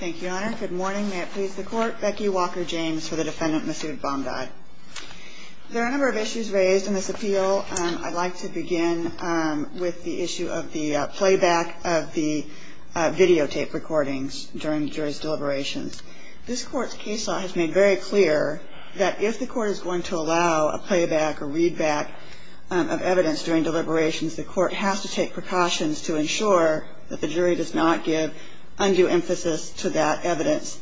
There are a number of issues raised in this appeal. I'd like to begin with the issue of the playback of the videotape recordings during the jury's deliberations. This court's case law has made very clear that if the court is going to allow a playback or readback of evidence during deliberations, the court has to take precautions to ensure that the jury does not give undue emphasis to that evidence.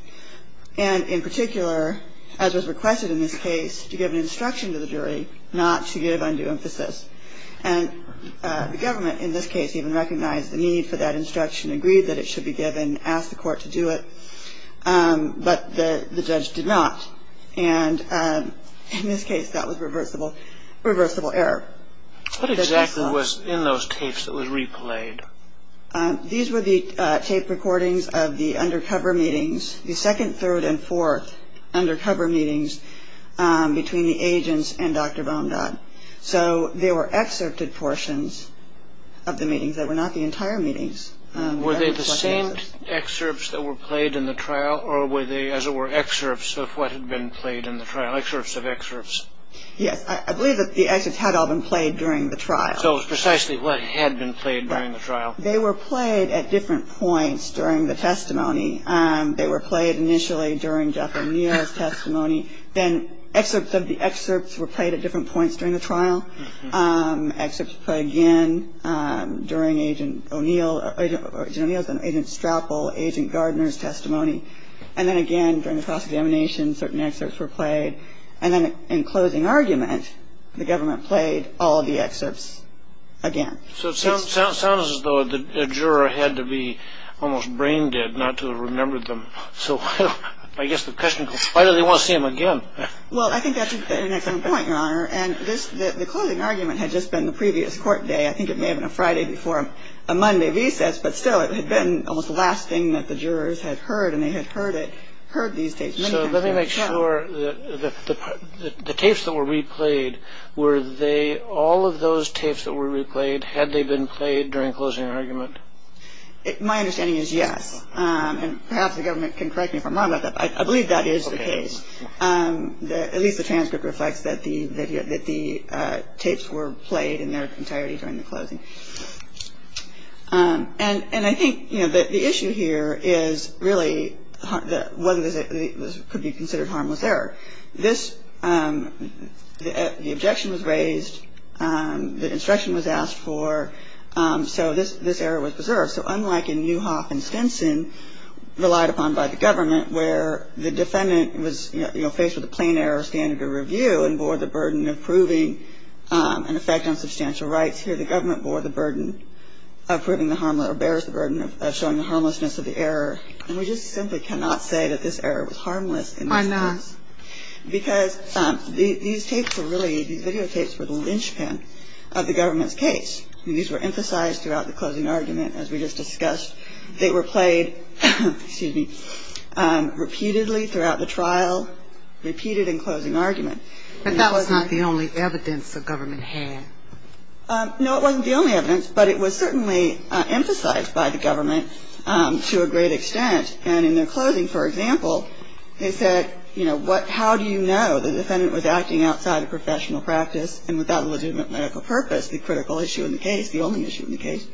And in particular, as was requested in this case, to give an instruction to the jury not to give undue emphasis. And the government in this case even recognized the need for that instruction, agreed that it should be given, asked the court to do it. But the judge did not. And in this case, that was reversible error. What exactly was in those tapes that was replayed? These were the tape recordings of the undercover meetings, the second, third, and fourth undercover meetings between the agents and Dr. Bamdad. So there were excerpted portions of the meetings that were not the entire meetings. Were they the same excerpts that were played in the trial or were they, as it were, excerpts of what had been played in the trial, excerpts of excerpts? Yes. I believe that the excerpts had all been played during the trial. So it was precisely what had been played during the trial. They were played at different points during the testimony. They were played initially during Jeff O'Neill's testimony. Then excerpts of the excerpts were played at different points during the trial. Excerpts were played again during Agent O'Neill's and Agent Strapple, Agent Gardner's testimony. And then again during the cross-examination, certain excerpts were played. And then in closing argument, the government played all the excerpts again. So it sounds as though the juror had to be almost brain-dead not to have remembered them. So I guess the question is, why do they want to see them again? Well, I think that's an excellent point, Your Honor. And the closing argument had just been the previous court day. I think it may have been a Friday before a Monday recess. But still, it had been almost the last thing that the jurors had heard, and they had heard these tapes many times during the trial. So let me make sure that the tapes that were replayed, were they all of those tapes that were replayed, had they been played during closing argument? My understanding is yes. And perhaps the government can correct me if I'm wrong about that. I believe that is the case. At least the transcript reflects that the tapes were played in their entirety during the closing. And I think the issue here is really whether this could be considered harmless error. The objection was raised. The instruction was asked for. So this error was preserved. So unlike in Newhoff and Stinson, relied upon by the government, where the defendant was faced with a plain error standard of review and bore the burden of proving an effect on substantial rights, here the government bore the burden of proving the harm or bears the burden of showing the harmlessness of the error. And we just simply cannot say that this error was harmless. Why not? Because these tapes were really, these videotapes were the linchpin of the government's case. These were emphasized throughout the closing argument, as we just discussed. They were played repeatedly throughout the trial, repeated in closing argument. But that was not the only evidence the government had. No, it wasn't the only evidence. But it was certainly emphasized by the government to a great extent. And in their closing, for example, they said, you know, how do you know the defendant was acting outside of professional practice and without a legitimate medical purpose, the critical issue in the case, the only issue in the case?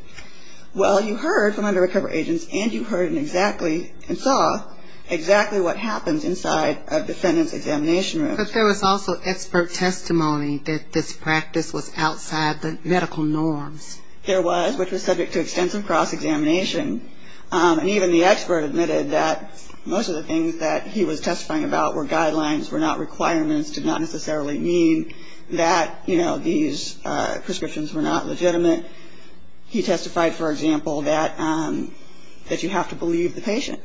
Well, you heard from under-recovery agents, and you heard exactly and saw exactly what happens inside a defendant's examination room. But there was also expert testimony that this practice was outside the medical norms. There was, which was subject to extensive cross-examination. And even the expert admitted that most of the things that he was testifying about were guidelines, were not requirements, did not necessarily mean that, you know, these prescriptions were not legitimate. He testified, for example, that you have to believe the patient.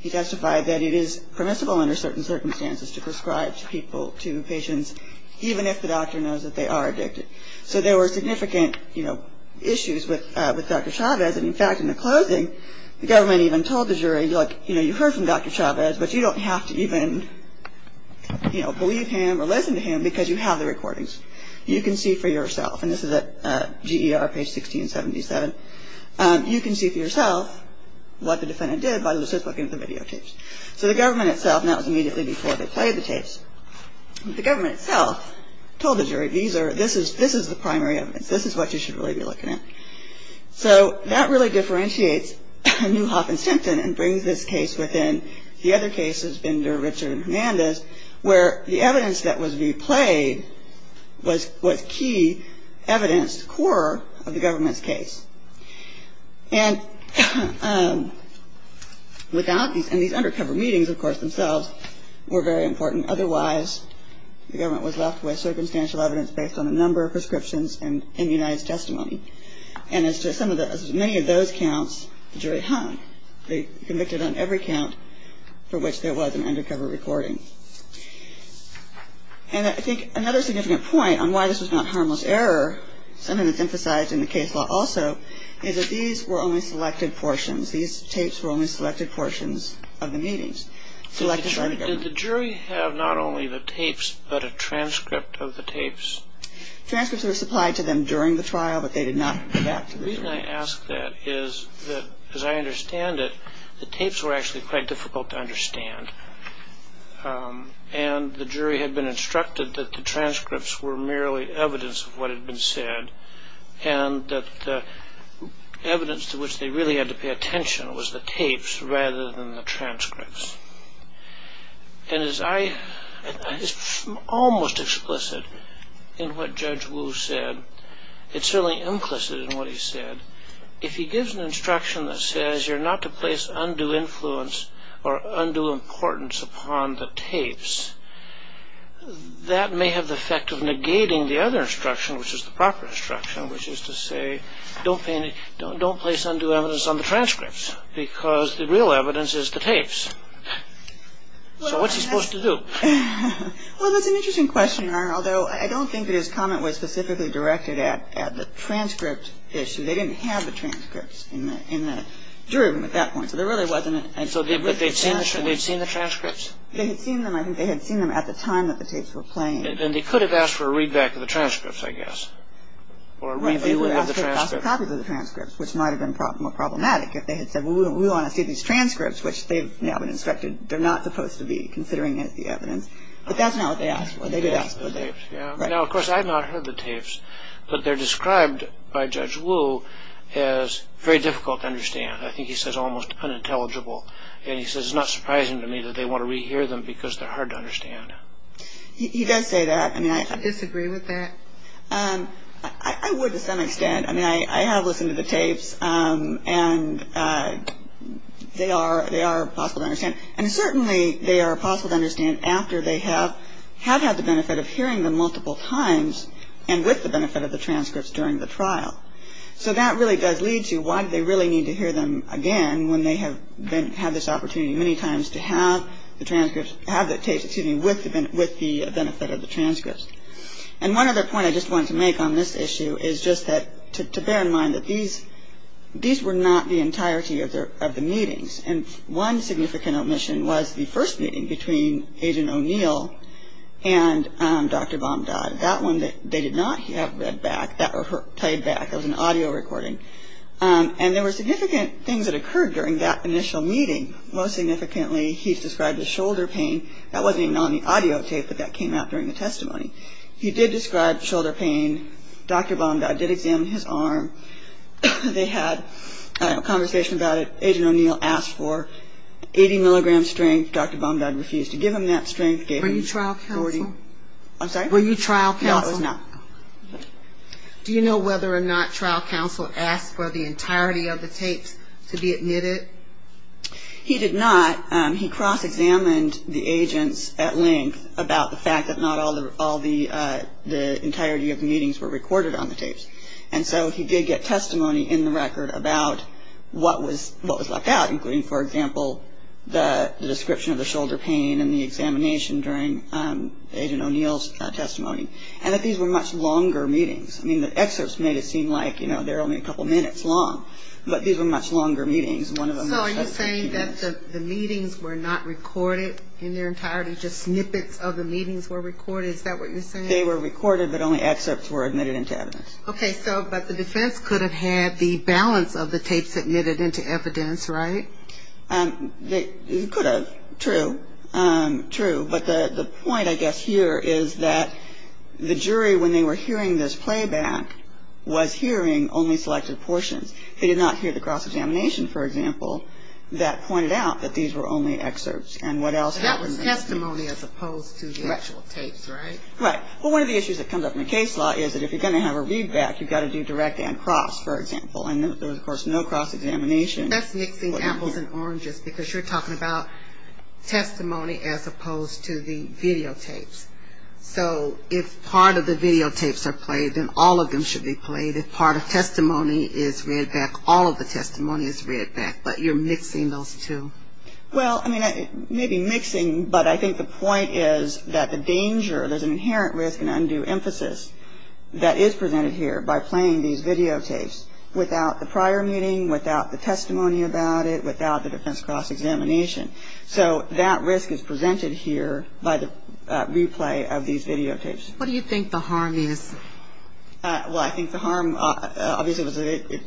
He testified that it is permissible under certain circumstances to prescribe to people, to patients, even if the doctor knows that they are addicted. So there were significant, you know, issues with Dr. Chavez. And, in fact, in the closing, the government even told the jury, look, you know, you heard from Dr. Chavez, but you don't have to even, you know, believe him or listen to him because you have the recordings. You can see for yourself. And this is at GER, page 1677. You can see for yourself what the defendant did by just looking at the videotapes. So the government itself, and that was immediately before they played the tapes, the government itself told the jury, these are, this is the primary evidence. This is what you should really be looking at. So that really differentiates Newhoff and Simpson and brings this case within the other cases, Binder, Richard and Hernandez, where the evidence that was replayed was key evidence, core of the government's case. And without these, and these undercover meetings, of course, themselves were very important. Otherwise, the government was left with circumstantial evidence based on a number of prescriptions and immunized testimony. And as to some of the, many of those counts, the jury hung. They convicted on every count for which there was an undercover recording. And I think another significant point on why this was not harmless error, something that's emphasized in the case law also, is that these were only selected portions. These tapes were only selected portions of the meetings, selected by the government. Did the jury have not only the tapes, but a transcript of the tapes? Transcripts were supplied to them during the trial, but they did not have that. The reason I ask that is that, as I understand it, the tapes were actually quite difficult to understand. And the jury had been instructed that the transcripts were merely evidence of what had been said, and that the evidence to which they really had to pay attention was the tapes rather than the transcripts. And as I, it's almost explicit in what Judge Wu said. It's certainly implicit in what he said. If he gives an instruction that says you're not to place undue influence or undue importance upon the tapes, that may have the effect of negating the other instruction, which is the proper instruction, which is to say, don't place undue evidence on the transcripts, because the real evidence is the tapes. So what's he supposed to do? Well, that's an interesting question, Arnold, although I don't think that his comment was specifically directed at the transcript issue. They didn't have the transcripts in the jury room at that point. So there really wasn't a... So they'd seen the transcripts? They had seen them. I think they had seen them at the time that the tapes were playing. Then they could have asked for a readback of the transcripts, I guess, or a review of the transcripts. Right, they would have asked for copies of the transcripts, which might have been more problematic if they had said, well, we want to see these transcripts, which they've now been instructed they're not supposed to be, considering it's the evidence. But that's not what they asked for. They did ask for the tapes, yeah. Right. Now, of course, I've not heard the tapes, but they're described by Judge Wu as very difficult to understand. I think he says almost unintelligible. And he says it's not surprising to me that they want to re-hear them because they're hard to understand. He does say that. Would you disagree with that? I would to some extent. I mean, I have listened to the tapes, and they are possible to understand. And certainly they are possible to understand after they have had the benefit of hearing them multiple times and with the benefit of the transcripts during the trial. So that really does lead to why do they really need to hear them again when they have had this opportunity many times to have the transcripts, have the tapes, excuse me, with the benefit of the transcripts. And one other point I just wanted to make on this issue is just to bear in mind that these were not the entirety of the meetings. And one significant omission was the first meeting between Agent O'Neill and Dr. Bomdod. That one they did not have read back. That was played back. It was an audio recording. And there were significant things that occurred during that initial meeting. Most significantly, he described the shoulder pain. That wasn't even on the audio tape, but that came out during the testimony. He did describe shoulder pain. Dr. Bomdod did examine his arm. They had a conversation about it. Agent O'Neill asked for 80-milligram strength. Dr. Bomdod refused to give him that strength. Were you trial counsel? I'm sorry? Were you trial counsel? No, I was not. Do you know whether or not trial counsel asked for the entirety of the tapes to be admitted? He did not. He cross-examined the agents at length about the fact that not all the entirety of the meetings were recorded on the tapes. And so he did get testimony in the record about what was left out, including, for example, the description of the shoulder pain and the examination during Agent O'Neill's testimony, and that these were much longer meetings. I mean, the excerpts made it seem like they were only a couple minutes long, but these were much longer meetings. So are you saying that the meetings were not recorded in their entirety, just snippets of the meetings were recorded? Is that what you're saying? They were recorded, but only excerpts were admitted into evidence. Okay. So but the defense could have had the balance of the tapes admitted into evidence, right? It could have. True. True. But the point, I guess, here is that the jury, when they were hearing this playback, was hearing only selected portions. They did not hear the cross-examination, for example, that pointed out that these were only excerpts. And what else happened? That was testimony as opposed to the actual tapes, right? Right. Well, one of the issues that comes up in the case law is that if you're going to have a readback, you've got to do direct and cross, for example. And there was, of course, no cross-examination. That's mixing apples and oranges because you're talking about testimony as opposed to the videotapes. So if part of the videotapes are played, then all of them should be played. If part of testimony is read back, all of the testimony is read back, but you're mixing those two. Well, I mean, maybe mixing, but I think the point is that the danger, there's an inherent risk and undue emphasis that is presented here by playing these videotapes without the prior meeting, without the testimony about it, without the defense cross-examination. So that risk is presented here by the replay of these videotapes. What do you think the harm is? Well, I think the harm obviously was that it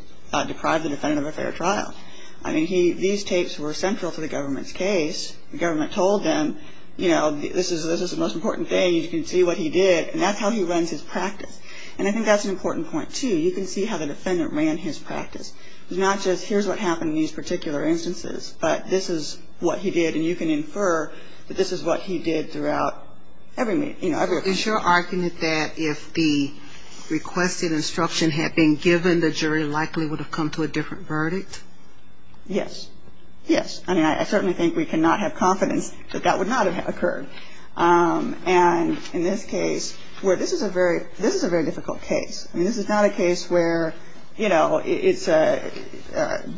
deprived the defendant of a fair trial. I mean, these tapes were central to the government's case. The government told them, you know, this is the most important thing, you can see what he did, and that's how he runs his practice. And I think that's an important point, too. You can see how the defendant ran his practice. It's not just here's what happened in these particular instances, but this is what he did, and you can infer that this is what he did throughout every meeting. Is your argument that if the requested instruction had been given, the jury likely would have come to a different verdict? Yes. Yes. I mean, I certainly think we cannot have confidence that that would not have occurred. And in this case, where this is a very difficult case. I mean, this is not a case where, you know, it's a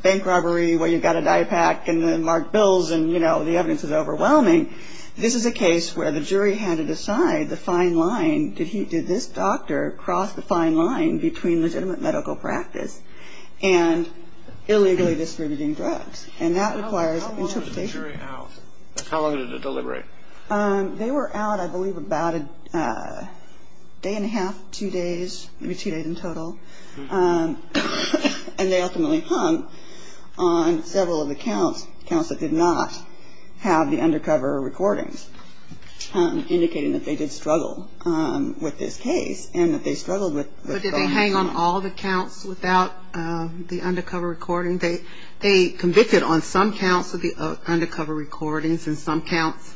bank robbery where you've got a dye pack and then mark bills and, you know, the evidence is overwhelming. This is a case where the jury had to decide the fine line. Did this doctor cross the fine line between legitimate medical practice and illegally distributing drugs? And that requires interpretation. How long were the jury out? How long did it deliberate? They were out, I believe, about a day and a half, two days, maybe two days in total. And they ultimately hung on several of the counts, counts that did not have the undercover recordings, indicating that they did struggle with this case and that they struggled with going home. But did they hang on all the counts without the undercover recording? They convicted on some counts of the undercover recordings and some counts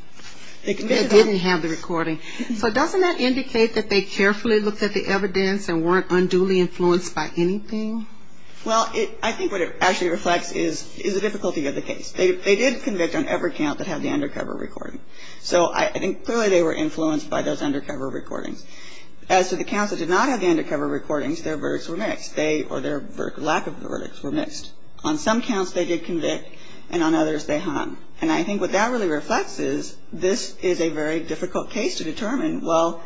didn't have the recording. So doesn't that indicate that they carefully looked at the evidence and weren't unduly influenced by anything? Well, I think what it actually reflects is the difficulty of the case. They did convict on every count that had the undercover recording. So I think clearly they were influenced by those undercover recordings. As to the counts that did not have the undercover recordings, their verdicts were mixed. They or their lack of the verdicts were mixed. On some counts they did convict and on others they hung. And I think what that really reflects is this is a very difficult case to determine. Well,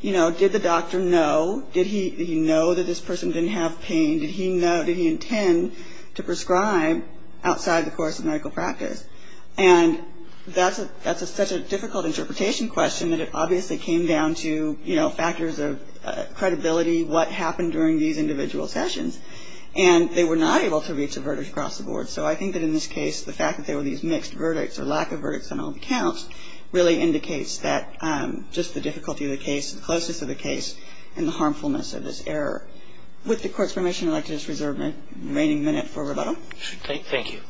you know, did the doctor know? Did he know that this person didn't have pain? Did he know, did he intend to prescribe outside the course of medical practice? And that's such a difficult interpretation question that it obviously came down to, you know, factors of credibility, what happened during these individual sessions. And they were not able to reach a verdict across the board. So I think that in this case the fact that there were these mixed verdicts or lack of verdicts on all the counts really indicates that just the difficulty of the case, the closeness of the case, and the harmfulness of this error. With the Court's permission, I'd like to reserve the remaining minute for rebuttal. Thank you.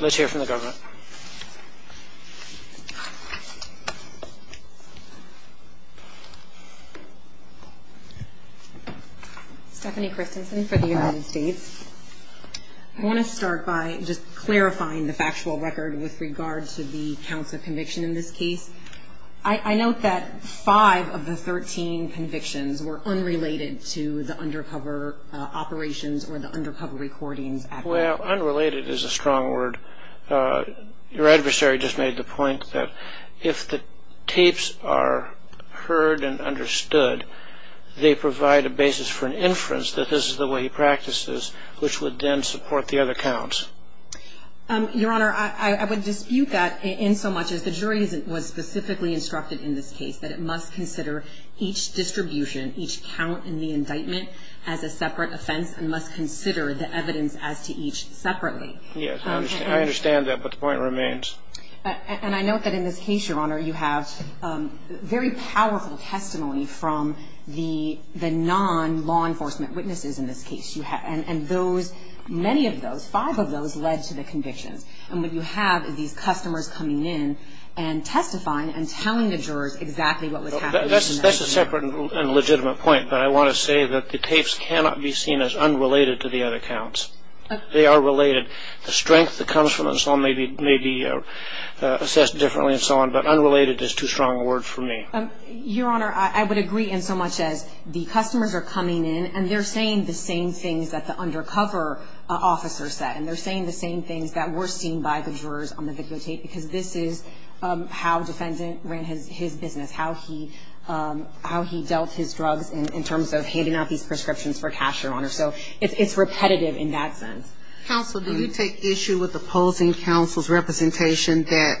Let's hear from the government. Stephanie Christensen for the United States. I want to start by just clarifying the factual record with regard to the counts of conviction in this case. I note that five of the 13 convictions were unrelated to the undercover operations or the undercover recordings at work. Well, unrelated is a strong word. Your adversary just made the point that if the tapes are heard and understood, they provide a basis for an inference that this is the way he practices, which would then support the other counts. Your Honor, I would dispute that in so much as the jury was specifically instructed in this case that it must consider each distribution, each count in the indictment as a separate offense and must consider the evidence as to each separately. Yes, I understand that, but the point remains. And I note that in this case, Your Honor, you have very powerful testimony from the non-law enforcement witnesses in this case. And those, many of those, five of those led to the convictions. And what you have is these customers coming in and testifying and telling the jurors exactly what was happening to them. That's a separate and legitimate point, but I want to say that the tapes cannot be seen as unrelated to the other counts. They are related. The strength that comes from them may be assessed differently and so on, but unrelated is too strong a word for me. Your Honor, I would agree in so much as the customers are coming in and they're saying the same things that the undercover officer said, and they're saying the same things that were seen by the jurors on the videotape because this is how defendant ran his business, how he dealt his drugs in terms of handing out these prescriptions for cash, Your Honor. So it's repetitive in that sense. Counsel, do you take issue with opposing counsel's representation that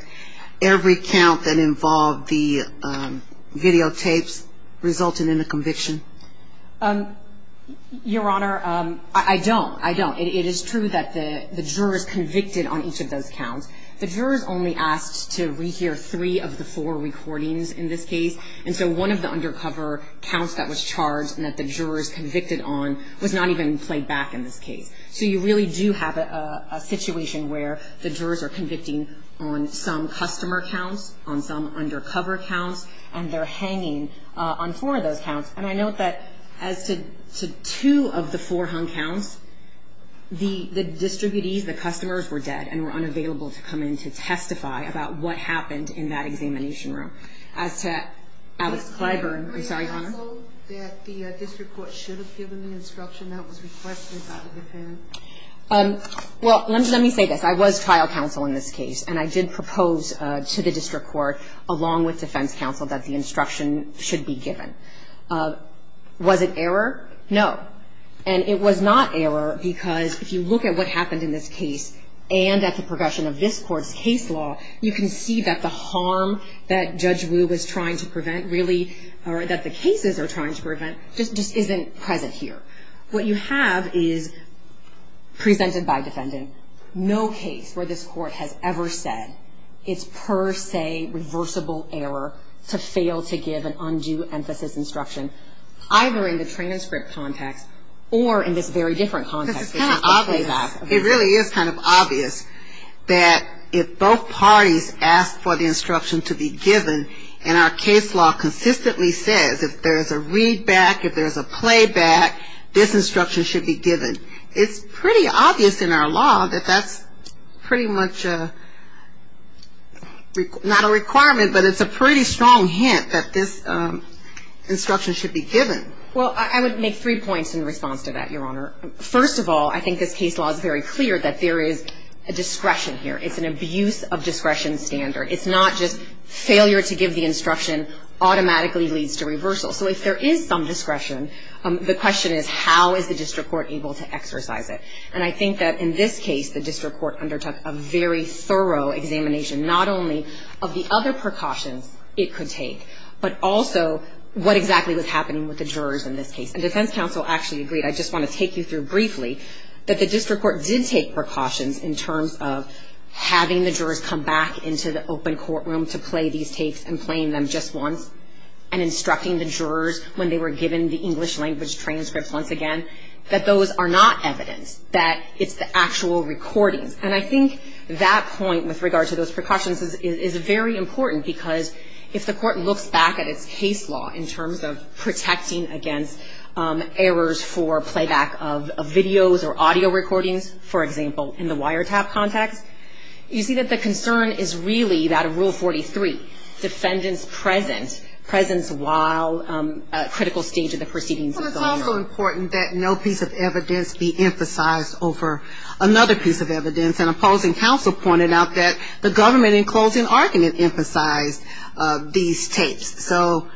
every count that involved the videotapes resulted in a conviction? Your Honor, I don't. I don't. It is true that the jurors convicted on each of those counts. The jurors only asked to rehear three of the four recordings in this case, and so one of the undercover counts that was charged and that the jurors convicted on was not even played back in this case. So you really do have a situation where the jurors are convicting on some customer counts, on some undercover counts, and they're hanging on four of those counts. And I note that as to two of the four hung counts, the distributees, the customers, were dead and were unavailable to come in to testify about what happened in that examination room. As to Alex Clyburn, I'm sorry, Your Honor? Were you counsel that the district court should have given the instruction that was requested by the defendant? Well, let me say this. I was trial counsel in this case, and I did propose to the district court, along with defense counsel, that the instruction should be given. Was it error? No. And it was not error because if you look at what happened in this case and at the progression of this court's case law, you can see that the harm that Judge Wu was trying to prevent really, or that the cases are trying to prevent, just isn't present here. What you have is, presented by defendant, no case where this court has ever said it's per se reversible error to fail to give an undue emphasis instruction, either in the train and script context or in this very different context. This is kind of obvious. It really is kind of obvious that if both parties ask for the instruction to be given, and our case law consistently says if there's a readback, if there's a playback, this instruction should be given. It's pretty obvious in our law that that's pretty much not a requirement, but it's a pretty strong hint that this instruction should be given. Well, I would make three points in response to that, Your Honor. First of all, I think this case law is very clear that there is a discretion here. It's an abuse of discretion standard. It's not just failure to give the instruction automatically leads to reversal. So if there is some discretion, the question is how is the district court able to exercise it? And I think that in this case, the district court undertook a very thorough examination, not only of the other precautions it could take, but also what exactly was happening with the jurors in this case. And defense counsel actually agreed, I just want to take you through briefly, that the district court did take precautions in terms of having the jurors come back into the open courtroom to play these takes and playing them just once and instructing the jurors when they were given the English language transcripts once again, that those are not evidence, that it's the actual recordings. And I think that point with regard to those precautions is very important because if the court looks back at its case law in terms of protecting against errors for playback of videos or audio recordings, for example, in the wiretap context, you see that the concern is really that of Rule 43, defendants present, presence while a critical stage of the proceedings is going on. But it's also important that no piece of evidence be emphasized over another piece of evidence. And opposing counsel pointed out that the government in closing argument emphasized these tapes. So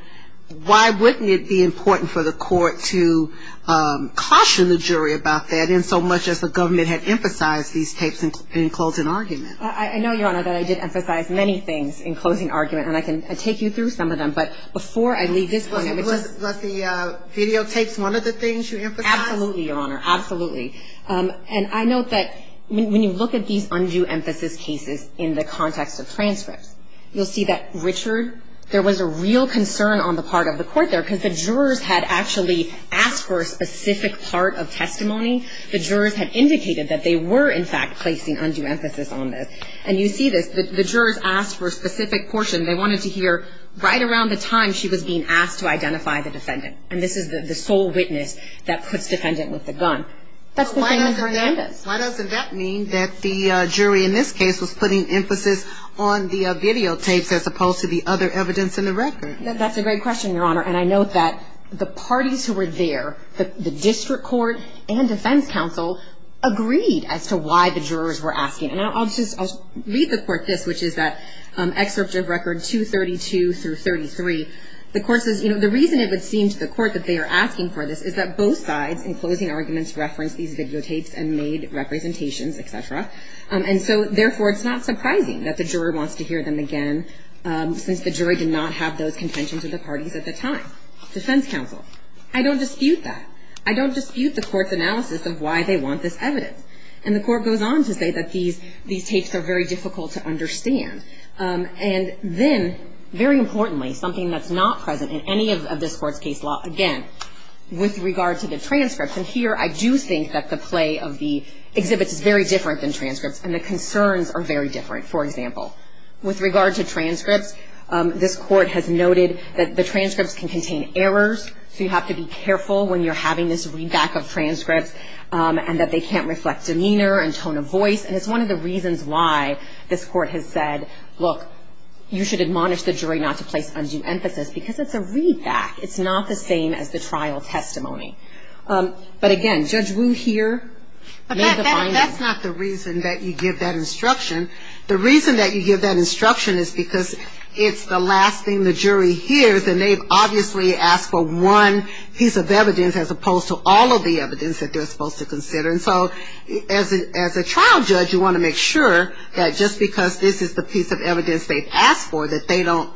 why wouldn't it be important for the court to caution the jury about that in so much as the government had emphasized these tapes in closing argument? I know, Your Honor, that I did emphasize many things in closing argument, and I can take you through some of them. But before I leave this point, I would just ‑‑ Was the videotapes one of the things you emphasized? Absolutely, Your Honor. Absolutely. And I note that when you look at these undue emphasis cases in the context of transcripts, you'll see that, Richard, there was a real concern on the part of the court there because the jurors had actually asked for a specific part of testimony. The jurors had indicated that they were, in fact, placing undue emphasis on this. And you see this. The jurors asked for a specific portion. They wanted to hear right around the time she was being asked to identify the defendant. And this is the sole witness that puts defendant with the gun. That's the thing with Hernandez. Why doesn't that mean that the jury in this case was putting emphasis on the videotapes as opposed to the other evidence in the record? That's a great question, Your Honor. And I note that the parties who were there, the district court and defense counsel, agreed as to why the jurors were asking. And I'll just read the court this, which is that excerpt of record 232 through 33. The court says, you know, the reason it would seem to the court that they are asking for this is that both sides, in closing arguments, referenced these videotapes and made representations, et cetera. And so, therefore, it's not surprising that the juror wants to hear them again since the jury did not have those contentions of the parties at the time. Defense counsel, I don't dispute that. I don't dispute the court's analysis of why they want this evidence. And the court goes on to say that these tapes are very difficult to understand. And then, very importantly, something that's not present in any of this court's case law, again, with regard to the transcripts, and here I do think that the play of the exhibits is very different than transcripts, and the concerns are very different. For example, with regard to transcripts, this court has noted that the transcripts can contain errors, so you have to be careful when you're having this readback of transcripts and that they can't reflect demeanor and tone of voice. And it's one of the reasons why this court has said, look, you should admonish the jury not to place undue emphasis, because it's a readback. It's not the same as the trial testimony. But, again, Judge Wu here made the finding. And that's not the reason that you give that instruction. The reason that you give that instruction is because it's the last thing the jury hears, and they've obviously asked for one piece of evidence, as opposed to all of the evidence that they're supposed to consider. And so as a trial judge, you want to make sure that just because this is the piece of evidence they've asked for, that they don't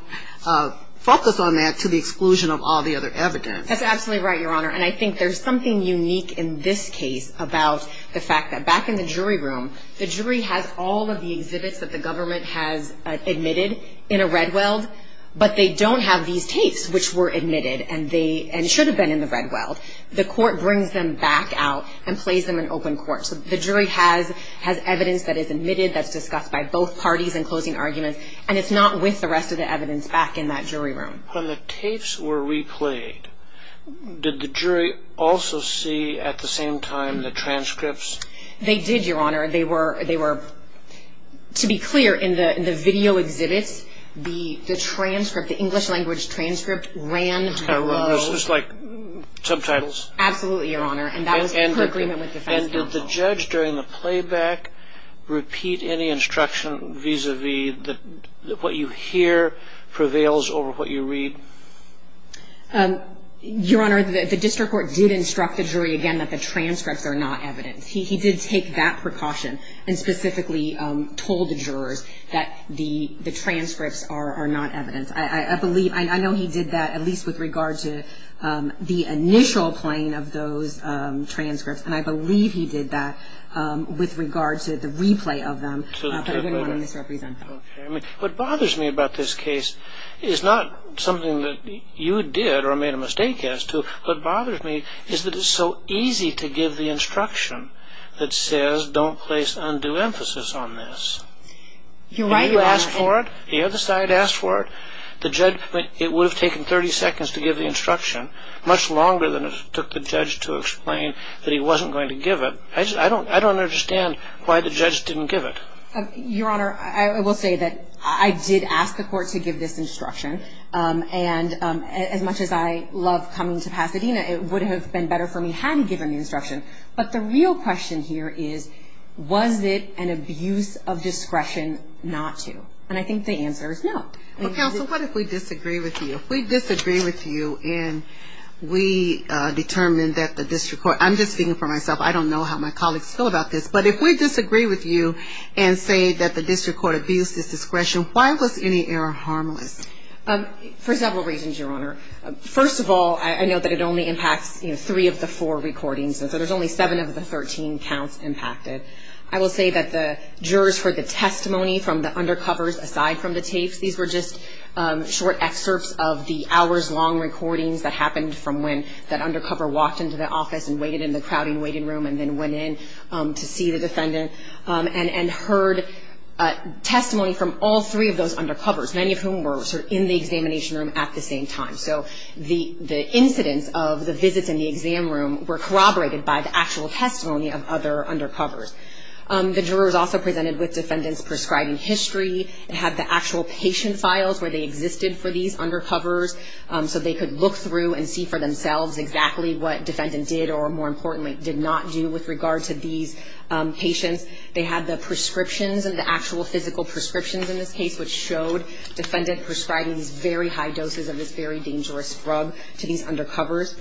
focus on that to the exclusion of all the other evidence. That's absolutely right, Your Honor. And I think there's something unique in this case about the fact that back in the jury room, the jury has all of the exhibits that the government has admitted in a Redweld, but they don't have these tapes which were admitted and should have been in the Redweld. The court brings them back out and plays them in open court. So the jury has evidence that is admitted, that's discussed by both parties in closing arguments, and it's not with the rest of the evidence back in that jury room. When the tapes were replayed, did the jury also see at the same time the transcripts? They did, Your Honor. They were, to be clear, in the video exhibits, the transcript, the English-language transcript ran to the rose. It was just like subtitles. Absolutely, Your Honor. And that was per agreement with defense counsel. And did the judge during the playback repeat any instruction vis-a-vis what you hear prevails over what you read? Your Honor, the district court did instruct the jury again that the transcripts are not evidence. He did take that precaution and specifically told the jurors that the transcripts are not evidence. I know he did that at least with regard to the initial playing of those transcripts, and I believe he did that with regard to the replay of them, but I didn't want to misrepresent that. What bothers me about this case is not something that you did or made a mistake as to, what bothers me is that it's so easy to give the instruction that says, don't place undue emphasis on this. You're right, Your Honor. If you asked for it, the other side asked for it, it would have taken 30 seconds to give the instruction, much longer than it took the judge to explain that he wasn't going to give it. I don't understand why the judge didn't give it. Your Honor, I will say that I did ask the court to give this instruction, and as much as I love coming to Pasadena, it would have been better for me had he given the instruction. But the real question here is, was it an abuse of discretion not to? And I think the answer is no. Well, counsel, what if we disagree with you? If we disagree with you and we determine that the district court, I'm just speaking for myself, I don't know how my colleagues feel about this, but if we disagree with you and say that the district court abused his discretion, why was any error harmless? For several reasons, Your Honor. First of all, I know that it only impacts three of the four recordings, and so there's only seven of the 13 counts impacted. I will say that the jurors heard the testimony from the undercovers aside from the tapes. These were just short excerpts of the hours-long recordings that happened from when that undercover walked into the office and waited in the crowding waiting room and then went in to see the defendant, and heard testimony from all three of those undercovers, many of whom were in the examination room at the same time. So the incidents of the visits in the exam room were corroborated by the actual testimony of other undercovers. The jurors also presented with defendants' prescribing history, had the actual patient files where they existed for these undercovers, so they could look through and see for themselves exactly what defendant did or, more importantly, did not do with regard to these patients. They had the prescriptions, the actual physical prescriptions in this case, which showed defendant prescribing these very high doses of this very dangerous drug to these undercovers.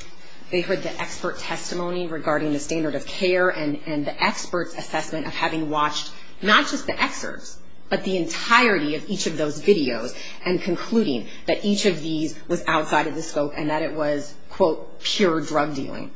They heard the expert testimony regarding the standard of care and the expert's assessment of having watched not just the excerpts, but the entirety of each of those videos and concluding that each of these was outside of the scope and that it was, quote, pure drug dealing.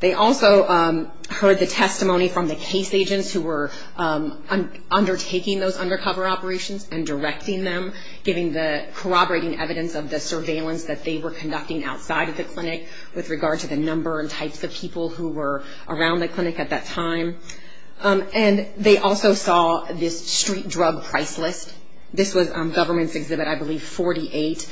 They also heard the testimony from the case agents who were undertaking those undercover operations and directing them, giving the corroborating evidence of the surveillance that they were conducting outside of the clinic with regard to the number and types of people who were around the clinic at that time. And they also saw this street drug price list. This was Government's Exhibit, I believe, 48.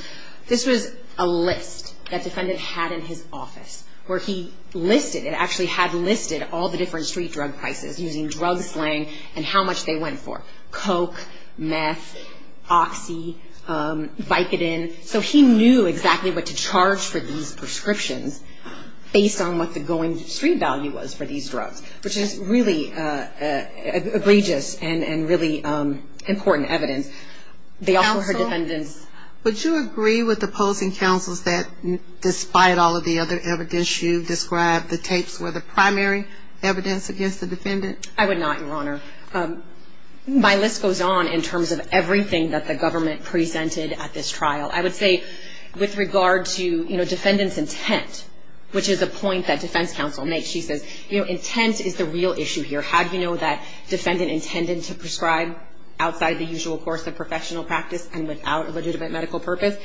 This was a list that defendant had in his office where he listed, it actually had listed all the different street drug prices using drug slang and how much they went for, Coke, meth, Oxy, Vicodin. And so he knew exactly what to charge for these prescriptions based on what the going street value was for these drugs, which is really egregious and really important evidence. They also heard defendants... Counsel, would you agree with opposing counsels that despite all of the other evidence you've described, the tapes were the primary evidence against the defendant? I would not, Your Honor. My list goes on in terms of everything that the government presented at this trial. I would say with regard to, you know, defendant's intent, which is a point that defense counsel makes. She says, you know, intent is the real issue here. How do you know that defendant intended to prescribe outside the usual course of professional practice and without a legitimate medical purpose?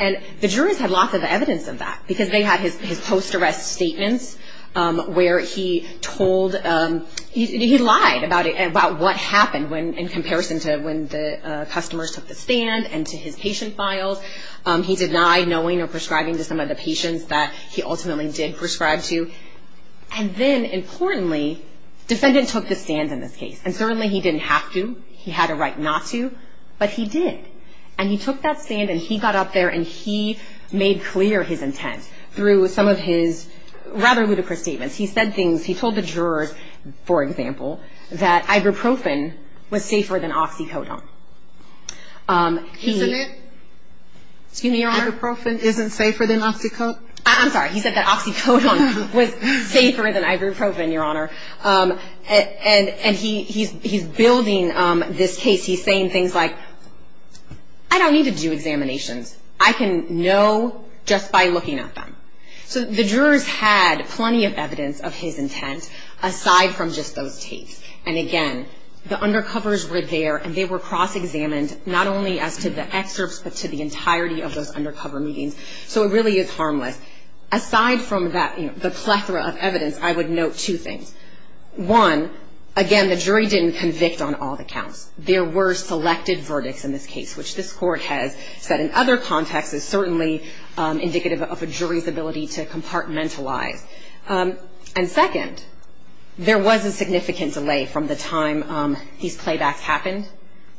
And the jurors had lots of evidence of that because they had his post-arrest statements where he told... He lied about what happened in comparison to when the customers took the stand and to his patient files. He denied knowing or prescribing to some of the patients that he ultimately did prescribe to. And then, importantly, defendant took the stand in this case. And certainly he didn't have to. He had a right not to, but he did. And he took that stand and he got up there and he made clear his intent through some of his rather ludicrous statements. He said things. He told the jurors, for example, that ibuprofen was safer than oxycodone. He... Isn't it? Excuse me, Your Honor? Ibuprofen isn't safer than oxycodone? I'm sorry. He said that oxycodone was safer than ibuprofen, Your Honor. And he's building this case. He's saying things like, I don't need to do examinations. I can know just by looking at them. So the jurors had plenty of evidence of his intent aside from just those tapes. And, again, the undercovers were there and they were cross-examined not only as to the excerpts but to the entirety of those undercover meetings. So it really is harmless. Aside from that, you know, the plethora of evidence, I would note two things. One, again, the jury didn't convict on all the counts. There were selected verdicts in this case, which this Court has said in other contexts is certainly indicative of a jury's ability to compartmentalize. And, second, there was a significant delay from the time these playbacks happened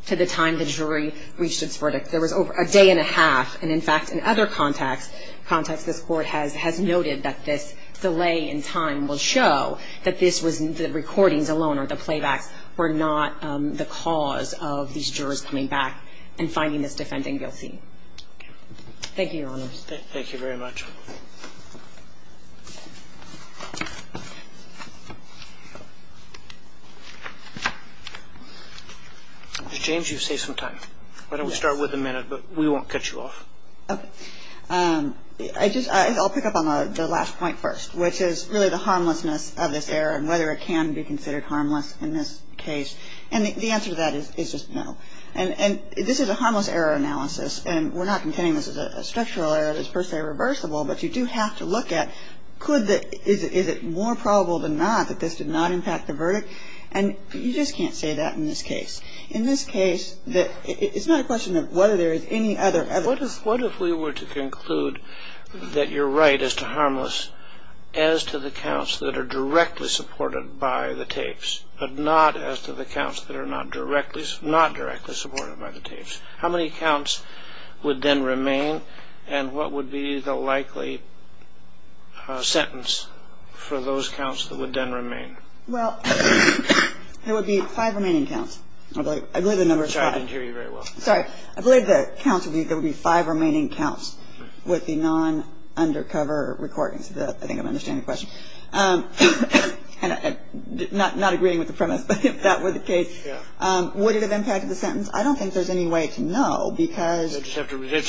to the time the jury reached its verdict. There was over a day and a half, and, in fact, in other contexts, this Court has noted that this delay in time will show that this was the recordings alone or the playbacks were not the cause of these jurors coming back and finding this defending guilty. Thank you, Your Honors. Thank you very much. Ms. James, you've saved some time. Why don't we start with a minute, but we won't cut you off. Okay. I'll pick up on the last point first, which is really the harmlessness of this error and whether it can be considered harmless in this case. And the answer to that is just no. And this is a harmless error analysis, and we're not contending this is a structural error that's per se reversible, but you do have to look at could the – is it more probable than not that this did not impact the verdict? And you just can't say that in this case. In this case, it's not a question of whether there is any other evidence. What if we were to conclude that you're right as to harmless as to the counts that are directly supported by the tapes, but not as to the counts that are not directly supported by the tapes? How many counts would then remain, and what would be the likely sentence for those counts that would then remain? Well, there would be five remaining counts. I believe the number is five. I'm sorry, I didn't hear you very well. Sorry. I believe the counts would be – there would be five remaining counts with the non-undercover recordings. I think I'm understanding the question. Not agreeing with the premise, but if that were the case, would it have impacted the sentence? I don't think there's any way to know because – It just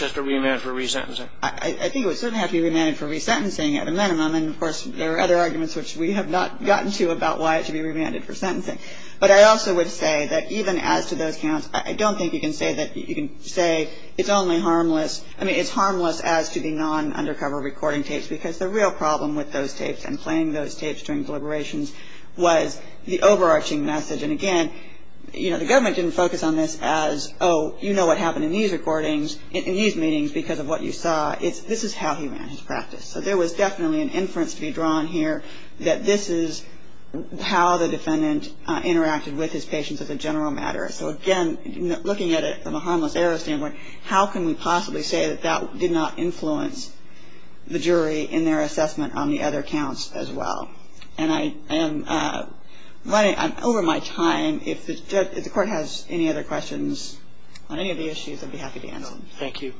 has to be remanded for resentencing. I think it would certainly have to be remanded for resentencing at a minimum, and of course there are other arguments which we have not gotten to about why it should be remanded for sentencing. But I also would say that even as to those counts, I don't think you can say that you can say it's only harmless – I mean, it's harmless as to the non-undercover recording tapes because the real problem with those tapes and playing those tapes during deliberations was the overarching message. And again, you know, the government didn't focus on this as, oh, you know what happened in these recordings, in these meetings because of what you saw. This is how he ran his practice. So there was definitely an inference to be drawn here that this is how the defendant interacted with his patients as a general matter. So again, looking at it from a harmless error standpoint, how can we possibly say that that did not influence the jury in their assessment on the other counts as well? And I am running – I'm over my time. If the court has any other questions on any of the issues, I'd be happy to answer them. Thank you.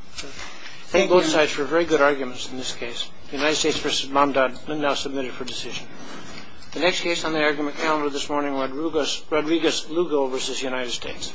Thank you both sides for very good arguments in this case. The United States v. Mamdad now submitted for decision. The next case on the argument calendar this morning, Rodriguez-Lugo v. United States.